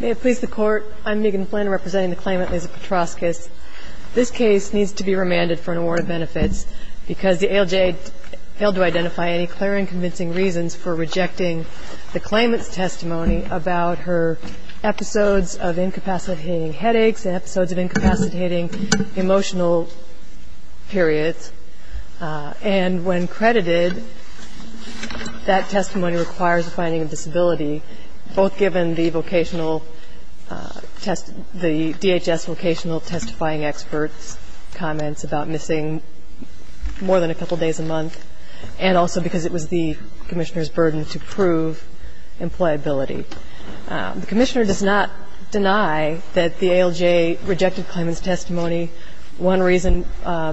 May it please the Court, I'm Megan Flynn representing the claimant, Lise Petrauskas. This case needs to be remanded for an award of benefits because the ALJ failed to identify any clear and convincing reasons for rejecting the claimant's testimony about her episodes of incapacitating headaches and episodes of incapacitating emotional periods. And when credited, that testimony requires a finding of disability, both given the vocational test, the DHS vocational testifying experts' comments about missing more than a couple days a month and also because it was the Commissioner's burden to prove employability. The Commissioner does not deny that the ALJ rejected claimant's testimony, one reason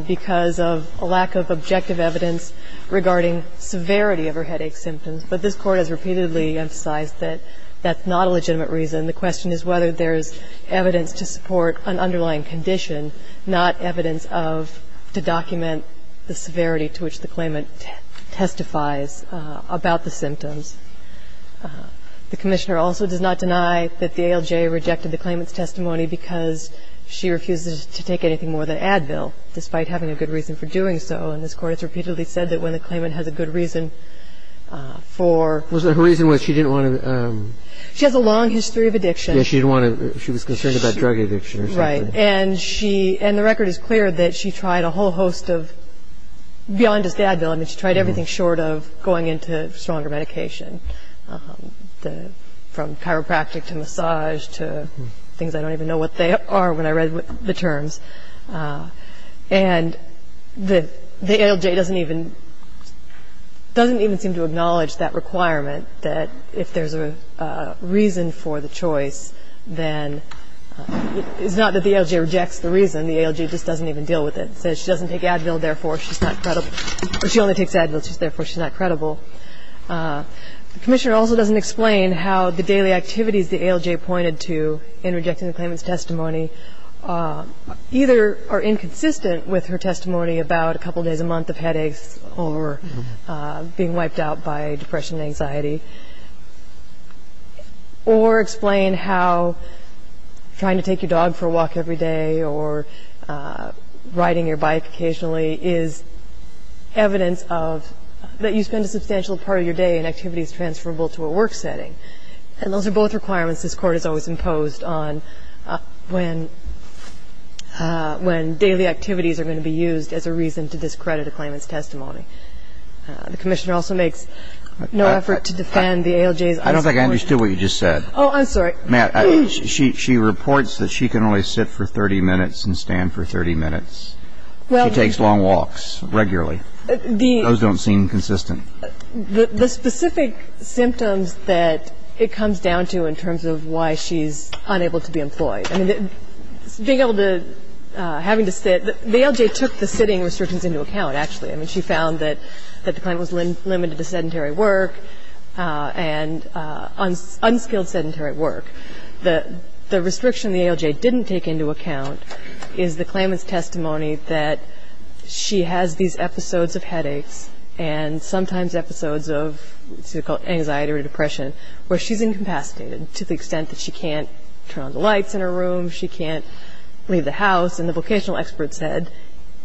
because of a lack of objective evidence regarding severity of her headache symptoms, but this Court has repeatedly emphasized that that's not a legitimate reason. The question is whether there's evidence to support an underlying condition, not evidence of to document the severity to which the claimant testifies about the symptoms. The Commissioner also does not deny that the ALJ rejected the claimant's testimony because she refuses to take anything more than Advil, despite having a good reason for doing so. And this Court has repeatedly said that when the claimant has a good reason for... Was there a reason why she didn't want to... She has a long history of addiction. Yeah, she didn't want to... she was concerned about drug addiction or something. Right. And she... and the record is clear that she tried a whole host of... beyond just Advil. I mean, she tried everything short of going into stronger medication, from chiropractic to massage to things I don't even know what they are when I read the terms. And the ALJ doesn't even... doesn't even seem to acknowledge that requirement that if there's a reason for the choice, then... It's not that the ALJ rejects the reason, the ALJ just doesn't even deal with it. It says she doesn't take Advil, therefore she's not credible. Or she only takes Advil, therefore she's not credible. The Commissioner also doesn't explain how the daily activities the ALJ pointed to in rejecting the claimant's testimony either are inconsistent with her testimony about a couple days a month of headaches or being wiped out by depression and anxiety, or explain how trying to take your dog for a walk every day or riding your bike occasionally is evidence of... that you spend a substantial part of your day in activities transferable to a work setting. And those are both requirements this Court has always imposed on when... when daily activities are going to be used as a reason to discredit a claimant's testimony. The Commissioner also makes no effort to defend the ALJ's... I don't think I understood what you just said. Oh, I'm sorry. Matt, she reports that she can only sit for 30 minutes and stand for 30 minutes. She takes long walks regularly. Those don't seem consistent. The specific symptoms that it comes down to in terms of why she's unable to be employed. I mean, being able to... having to sit. The ALJ took the sitting restrictions into account, actually. I mean, she found that the claimant was limited to sedentary work and unskilled sedentary work. The restriction the ALJ didn't take into account is the claimant's testimony that she has these episodes of headaches and sometimes episodes of anxiety or depression where she's incapacitated to the extent that she can't turn on the lights in her room, she can't leave the house. And the vocational expert said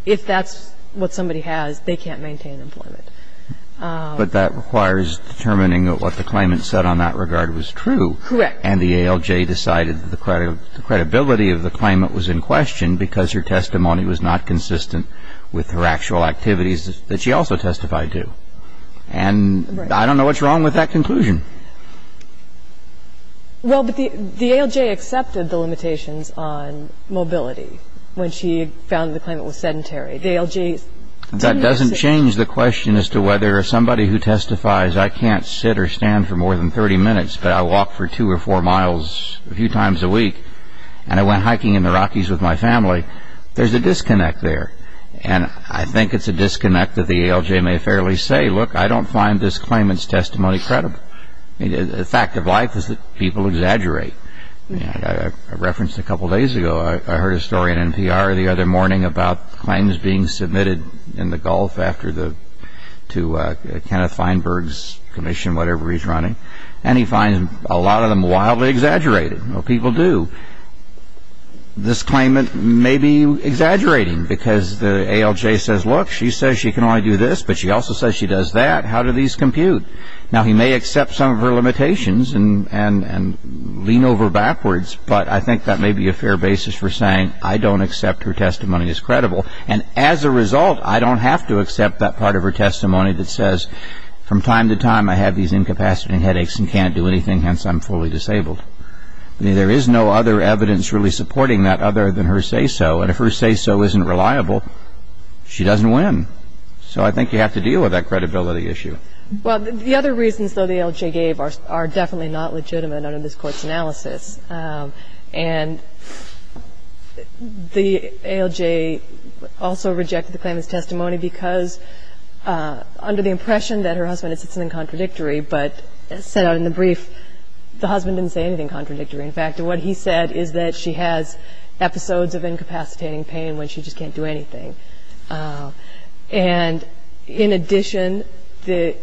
if that's what somebody has, they can't maintain employment. But that requires determining that what the claimant said on that regard was true. Correct. And the ALJ decided that the credibility of the claimant was in question because her testimony was not consistent with her actual activities that she also testified to. And I don't know what's wrong with that conclusion. Well, but the ALJ accepted the limitations on mobility when she found the claimant was sedentary. The ALJ... That doesn't change the question as to whether somebody who testifies, I can't sit or stand for more than 30 minutes but I walk for two or four miles a few times a week and I went hiking in the Rockies with my family, there's a disconnect there. And I think it's a disconnect that the ALJ may fairly say, look, I don't find this claimant's testimony credible. The fact of life is that people exaggerate. I referenced a couple days ago, I heard a story in NPR the other morning about claims being submitted in the Gulf to Kenneth Feinberg's commission, whatever he's running, and he finds a lot of them wildly exaggerated. Well, people do. This claimant may be exaggerating because the ALJ says, look, she says she can only do this, but she also says she does that. How do these compute? Now, he may accept some of her limitations and lean over backwards, but I think that may be a fair basis for saying, I don't accept her testimony as credible. And as a result, I don't have to accept that part of her testimony that says, from time to time I have these incapacitating headaches and can't do anything, hence I'm fully disabled. There is no other evidence really supporting that other than her say-so. And if her say-so isn't reliable, she doesn't win. So I think you have to deal with that credibility issue. Well, the other reasons, though, the ALJ gave are definitely not legitimate under this Court's analysis. And the ALJ also rejected the claimant's testimony because, under the impression that her husband had said something contradictory, but as set out in the brief, the husband didn't say anything contradictory. In fact, what he said is that she has episodes of incapacitating pain when she just can't do anything. And in addition, the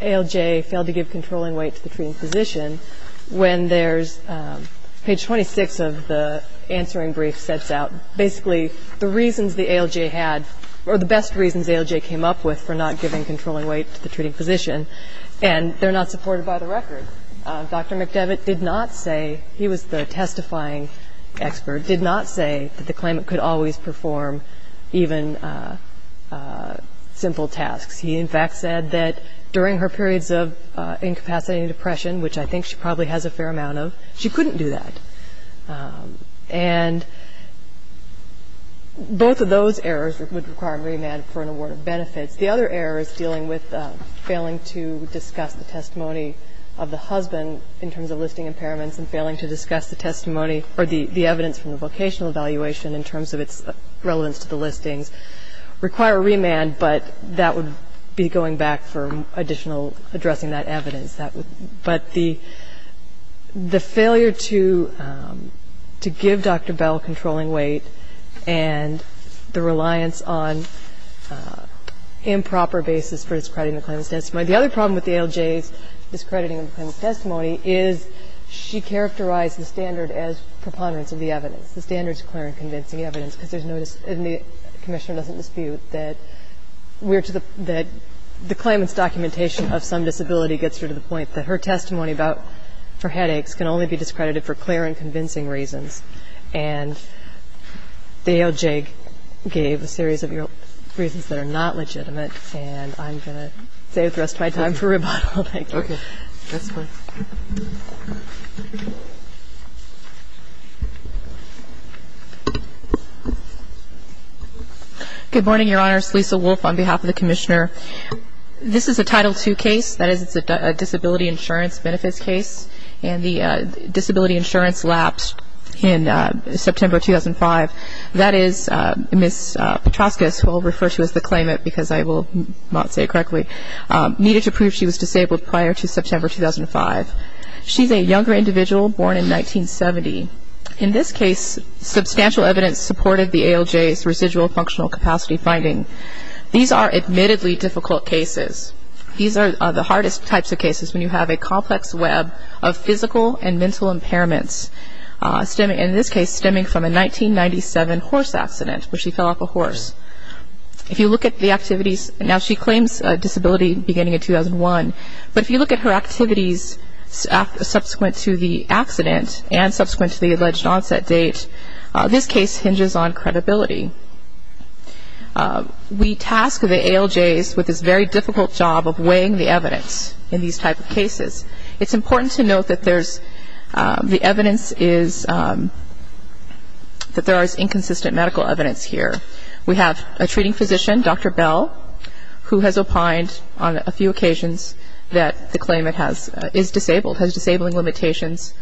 ALJ failed to give controlling weight to the treating physician when there's page 26 of the answering brief sets out basically the reasons the ALJ had, or the best reasons the ALJ came up with for not giving controlling weight to the treating physician, and they're not supported by the record. Dr. McDevitt did not say, he was the testifying expert, did not say that the claimant could always perform even simple tasks. He, in fact, said that during her periods of incapacitating depression, which I think she probably has a fair amount of, she couldn't do that. And both of those errors would require a remand for an award of benefits. The other error is dealing with failing to discuss the testimony of the husband in terms of listing impairments and failing to discuss the testimony or the evidence from the vocational evaluation in terms of its relevance to the listings. Require a remand, but that would be going back for additional addressing that evidence. But the failure to give Dr. Bell controlling weight and the reliance on improper basis for discrediting the claimant's testimony. The other problem with the ALJ's discrediting of the claimant's testimony is she characterized the standard as preponderance of the evidence. The standard is clear and convincing evidence because there's no dis- and the Commissioner doesn't dispute that we're to the- that the claimant's documentation of some disability gets her to the point that her testimony about her headaches can only be discredited for clear and convincing reasons. And the ALJ gave a series of reasons that are not legitimate. And I'm going to save the rest of my time for rebuttal. Thank you. Okay. Good morning, Your Honors. Lisa Wolfe on behalf of the Commissioner. This is a Title II case, that is it's a disability insurance benefits case. And the disability insurance lapsed in September 2005. That is Ms. Petroskas, who I'll refer to as the claimant because I will not say it correctly, needed to prove she was disabled prior to September 2005. She's a younger individual born in 1970. In this case, substantial evidence supported the ALJ's residual functional capacity finding. These are admittedly difficult cases. These are the hardest types of cases when you have a complex web of physical and mental impairments, in this case stemming from a 1997 horse accident where she fell off a horse. If you look at the activities, now she claims a disability beginning in 2001, but if you look at her activities subsequent to the accident and subsequent to the alleged onset date, this case hinges on credibility. We task the ALJs with this very difficult job of weighing the evidence in these type of cases. It's important to note that there's, the evidence is, that there is inconsistent medical evidence here. We have a treating physician, Dr. Bell, who has opined on a few occasions that the claimant has, is disabled, has disabling limitations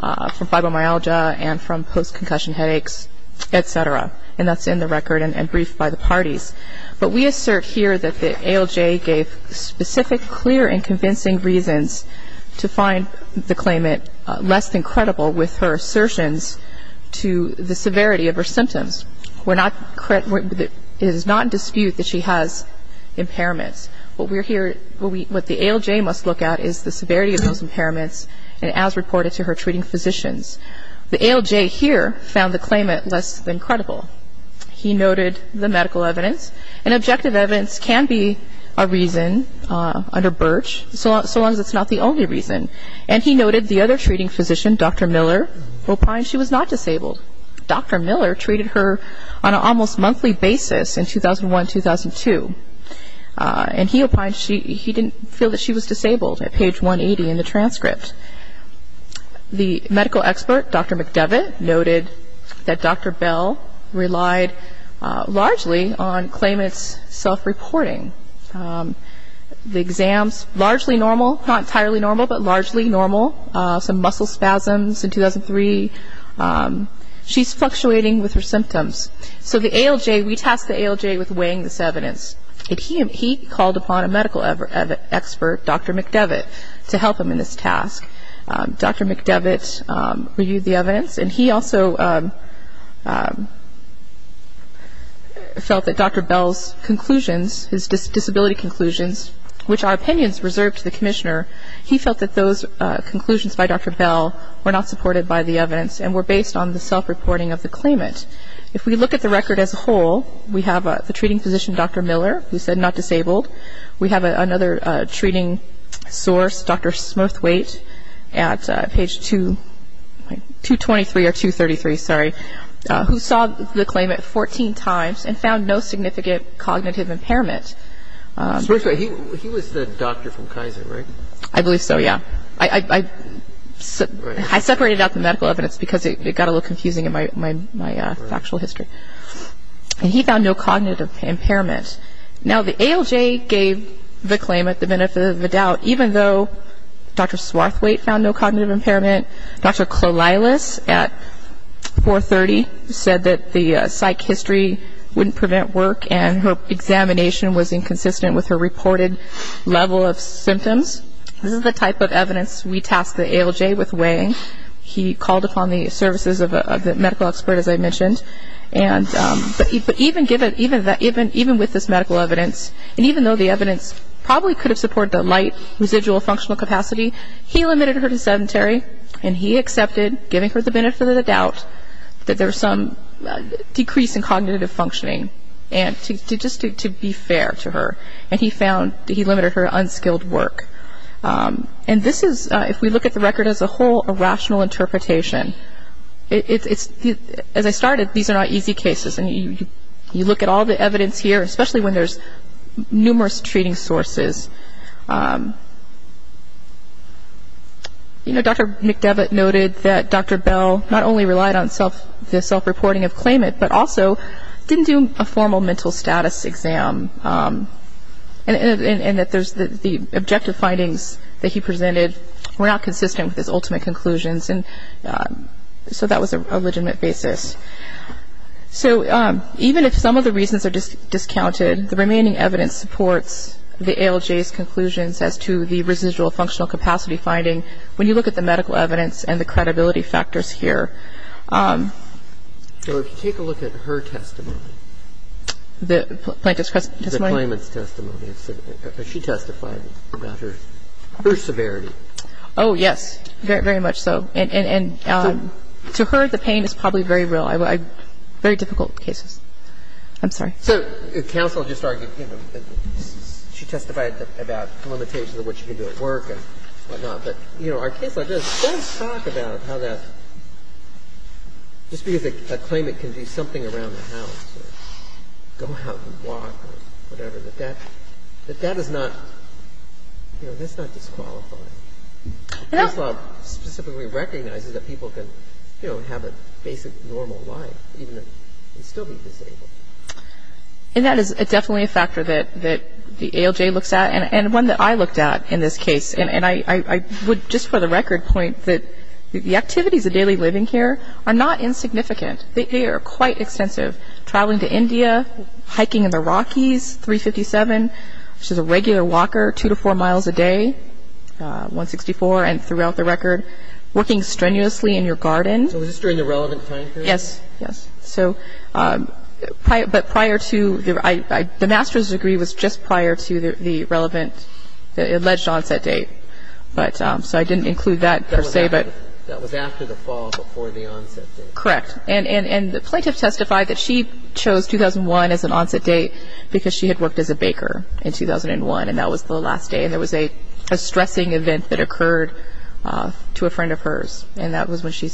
from fibromyalgia and from post-concussion headaches, et cetera, and that's in the record and briefed by the parties. But we assert here that the ALJ gave specific, clear, and convincing reasons to find the claimant less than credible with her assertions to the severity of her symptoms. We're not, it is not in dispute that she has impairments. What we're here, what the ALJ must look at is the severity of those impairments and as reported to her treating physicians. The ALJ here found the claimant less than credible. He noted the medical evidence, and objective evidence can be a reason under Birch, so long as it's not the only reason. And he noted the other treating physician, Dr. Miller, opined she was not disabled. Dr. Miller treated her on an almost monthly basis in 2001-2002, and he opined he didn't feel that she was disabled at page 180 in the transcript. The medical expert, Dr. McDevitt, noted that Dr. Bell relied largely on claimant's self-reporting. The exams, largely normal, not entirely normal, but largely normal. Some muscle spasms in 2003. She's fluctuating with her symptoms. So the ALJ, we tasked the ALJ with weighing this evidence, and he called upon a medical expert, Dr. McDevitt, to help him in this task. Dr. McDevitt reviewed the evidence, and he also felt that Dr. Bell's conclusions, he felt that those conclusions by Dr. Bell were not supported by the evidence and were based on the self-reporting of the claimant. If we look at the record as a whole, we have the treating physician, Dr. Miller, who said not disabled. We have another treating source, Dr. Smirthwaite, at page 223 or 233, sorry, who saw the claimant 14 times and found no significant cognitive impairment. Smirthwaite, he was the doctor from Kaiser, right? I believe so, yeah. I separated out the medical evidence because it got a little confusing in my factual history. And he found no cognitive impairment. Now, the ALJ gave the claimant the benefit of the doubt, even though Dr. Smirthwaite found no cognitive impairment. Dr. Clolilus at 430 said that the psych history wouldn't prevent work, and her examination was inconsistent with her reported level of symptoms. This is the type of evidence we tasked the ALJ with weighing. He called upon the services of the medical expert, as I mentioned. But even with this medical evidence, and even though the evidence probably could have supported the light residual functional capacity, he limited her to sedentary, and he accepted, giving her the benefit of the doubt, that there was some decrease in cognitive functioning. And just to be fair to her, and he found that he limited her to unskilled work. And this is, if we look at the record as a whole, a rational interpretation. As I started, these are not easy cases, and you look at all the evidence here, especially when there's numerous treating sources. You know, Dr. McDevitt noted that Dr. Bell not only relied on the self-reporting of claimant, but also didn't do a formal mental status exam, and that the objective findings that he presented were not consistent with his ultimate conclusions. And so that was a legitimate basis. So even if some of the reasons are discounted, the remaining evidence supports the ALJ's conclusions as to the residual functional capacity finding when you look at the medical evidence and the credibility factors here. So if you take a look at her testimony. The plaintiff's testimony? The claimant's testimony. She testified about her severity. Oh, yes. Very much so. And to her, the pain is probably very real. Very difficult cases. I'm sorry. So counsel just argued, you know, she testified about limitations of what she could do at work and whatnot. But, you know, our case law does talk about how that, just because a claimant can do something around the house or go out and walk or whatever, that that is not, you know, that's not disqualifying. The case law specifically recognizes that people can, you know, have a basic normal life even if they still be disabled. And that is definitely a factor that the ALJ looks at and one that I looked at in this case. And I would just for the record point that the activities of daily living here are not insignificant. They are quite extensive. Traveling to India, hiking in the Rockies, 357, which is a regular walker, two to four miles a day, 164, and throughout the record. Working strenuously in your garden. So was this during the relevant time period? Yes, yes. But prior to, the master's degree was just prior to the relevant, the alleged onset date. So I didn't include that per se. That was after the fall, before the onset date. Correct. And the plaintiff testified that she chose 2001 as an onset date because she had worked as a baker in 2001 and that was the last day. And there was a stressing event that occurred to a friend of hers. And that was when she,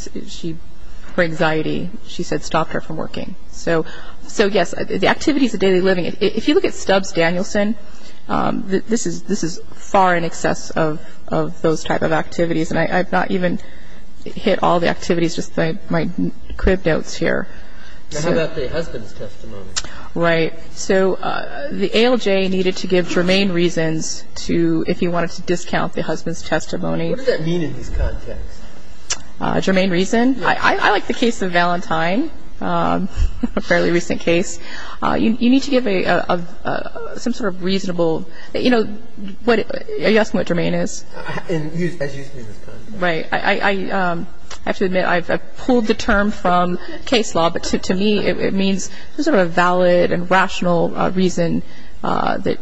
her anxiety, she said stopped her from working. So yes, the activities of daily living, if you look at Stubbs Danielson, this is far in excess of those type of activities. And I've not even hit all the activities, just my crib notes here. And how about the husband's testimony? Right. So the ALJ needed to give germane reasons to, if you wanted to discount the husband's testimony. What does that mean in this context? Germane reason? I like the case of Valentine, a fairly recent case. You need to give a, some sort of reasonable, you know, what, are you asking what germane is? And use, as used in this context. Right. I have to admit I've pulled the term from case law, but to me it means some sort of valid and rational reason that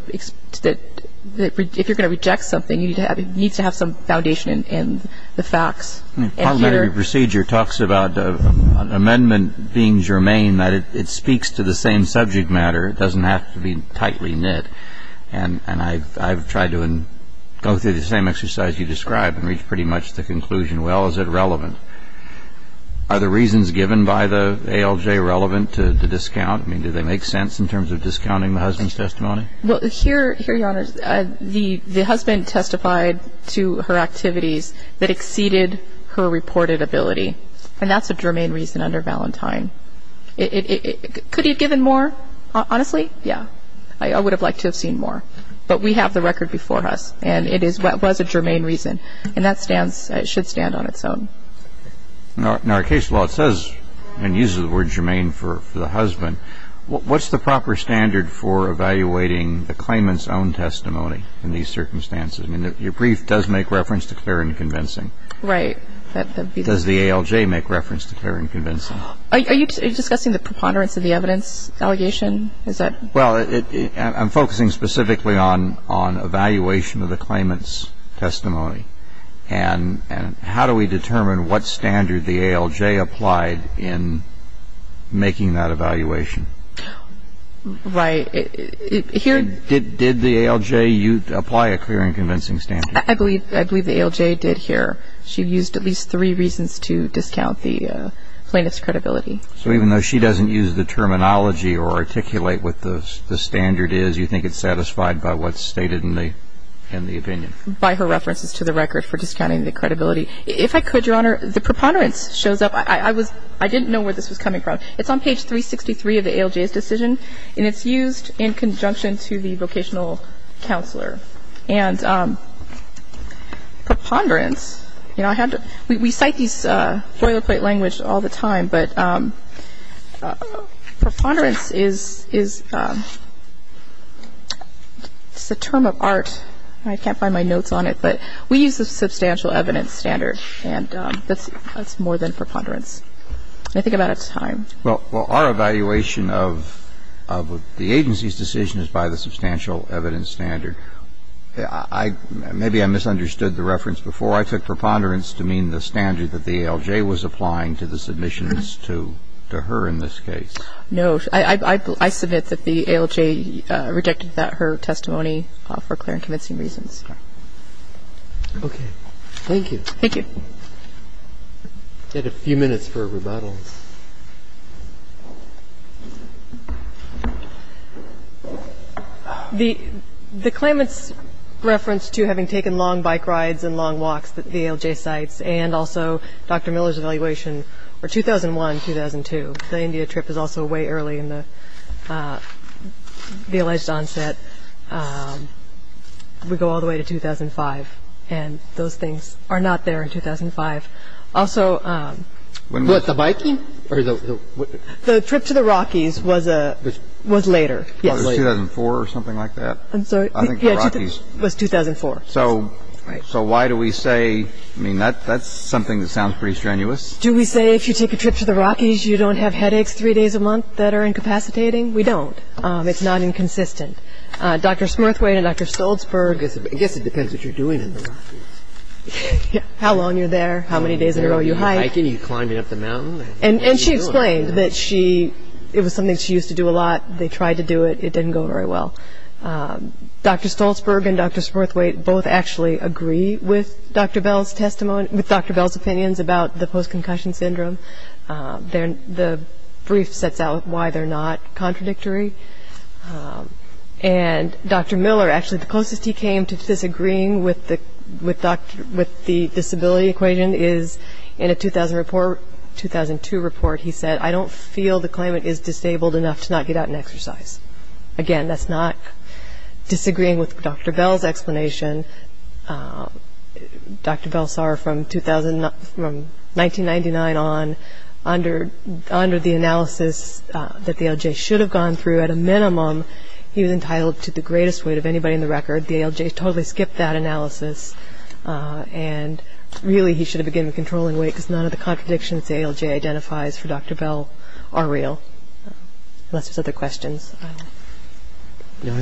if you're going to reject something, you need to have some foundation in the facts. Part of the procedure talks about an amendment being germane, that it speaks to the same subject matter. It doesn't have to be tightly knit. And I've tried to go through the same exercise you described and reached pretty much the conclusion, well, is it relevant? Are the reasons given by the ALJ relevant to discount? I mean, do they make sense in terms of discounting the husband's testimony? Well, here, Your Honor, the husband testified to her activities that exceeded her reported ability. And that's a germane reason under Valentine. Could he have given more, honestly? Yeah. I would have liked to have seen more. But we have the record before us, and it was a germane reason. And that stands, it should stand on its own. Now, in our case law, it says, and uses the word germane for the husband, what's the proper standard for evaluating the claimant's own testimony in these circumstances? I mean, your brief does make reference to clear and convincing. Right. Does the ALJ make reference to clear and convincing? Are you discussing the preponderance of the evidence allegation? Well, I'm focusing specifically on evaluation of the claimant's testimony. And how do we determine what standard the ALJ applied in making that evaluation? Right. Did the ALJ apply a clear and convincing standard? I believe the ALJ did here. She used at least three reasons to discount the plaintiff's credibility. So even though she doesn't use the terminology or articulate what the standard is, you think it's satisfied by what's stated in the opinion? By her references to the record for discounting the credibility. If I could, Your Honor, the preponderance shows up. I didn't know where this was coming from. It's on page 363 of the ALJ's decision, and it's used in conjunction to the vocational counselor. And preponderance, you know, we cite these boilerplate language all the time, but preponderance is a term of art. I can't find my notes on it. But we use the substantial evidence standard, and that's more than preponderance. I think I'm out of time. Well, our evaluation of the agency's decision is by the substantial evidence standard. Maybe I misunderstood the reference before. So I took preponderance to mean the standard that the ALJ was applying to the submissions to her in this case. No. I submit that the ALJ rejected that, her testimony, for clear and convincing reasons. Okay. Thank you. Thank you. We have a few minutes for rebuttals. The claimant's reference to having taken long bike rides and long walks, the ALJ cites, and also Dr. Miller's evaluation for 2001-2002. The India trip is also way early in the alleged onset. We go all the way to 2005, and those things are not there in 2005. What, the biking? The trip to the Rockies was later, yes. Oh, it was 2004 or something like that? I'm sorry. I think the Rockies. It was 2004. So why do we say, I mean, that's something that sounds pretty strenuous. Do we say if you take a trip to the Rockies you don't have headaches three days a month that are incapacitating? We don't. It's not inconsistent. Dr. Smirthway and Dr. Stolzberg. I guess it depends what you're doing in the Rockies. How long you're there, how many days in a row you hike. Are you hiking? Are you climbing up the mountain? And she explained that she, it was something she used to do a lot. They tried to do it. It didn't go very well. Dr. Stolzberg and Dr. Smirthway both actually agree with Dr. Bell's testimony, with Dr. Bell's opinions about the post-concussion syndrome. The brief sets out why they're not contradictory. And Dr. Miller, actually the closest he came to disagreeing with the disability equation is in a 2000 report, 2002 report he said, I don't feel the climate is disabled enough to not get out and exercise. Again, that's not disagreeing with Dr. Bell's explanation. Dr. Bell saw from 1999 on, under the analysis that the ALJ should have gone through, at a minimum he was entitled to the greatest weight of anybody in the record. The ALJ totally skipped that analysis. And really he should have been given a controlling weight because none of the contradictions the ALJ identifies for Dr. Bell are real. Unless there's other questions. No,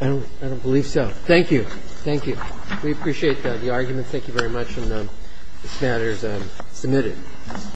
I don't believe so. Thank you. Thank you. We appreciate the argument. Thank you very much. And this matter is submitted.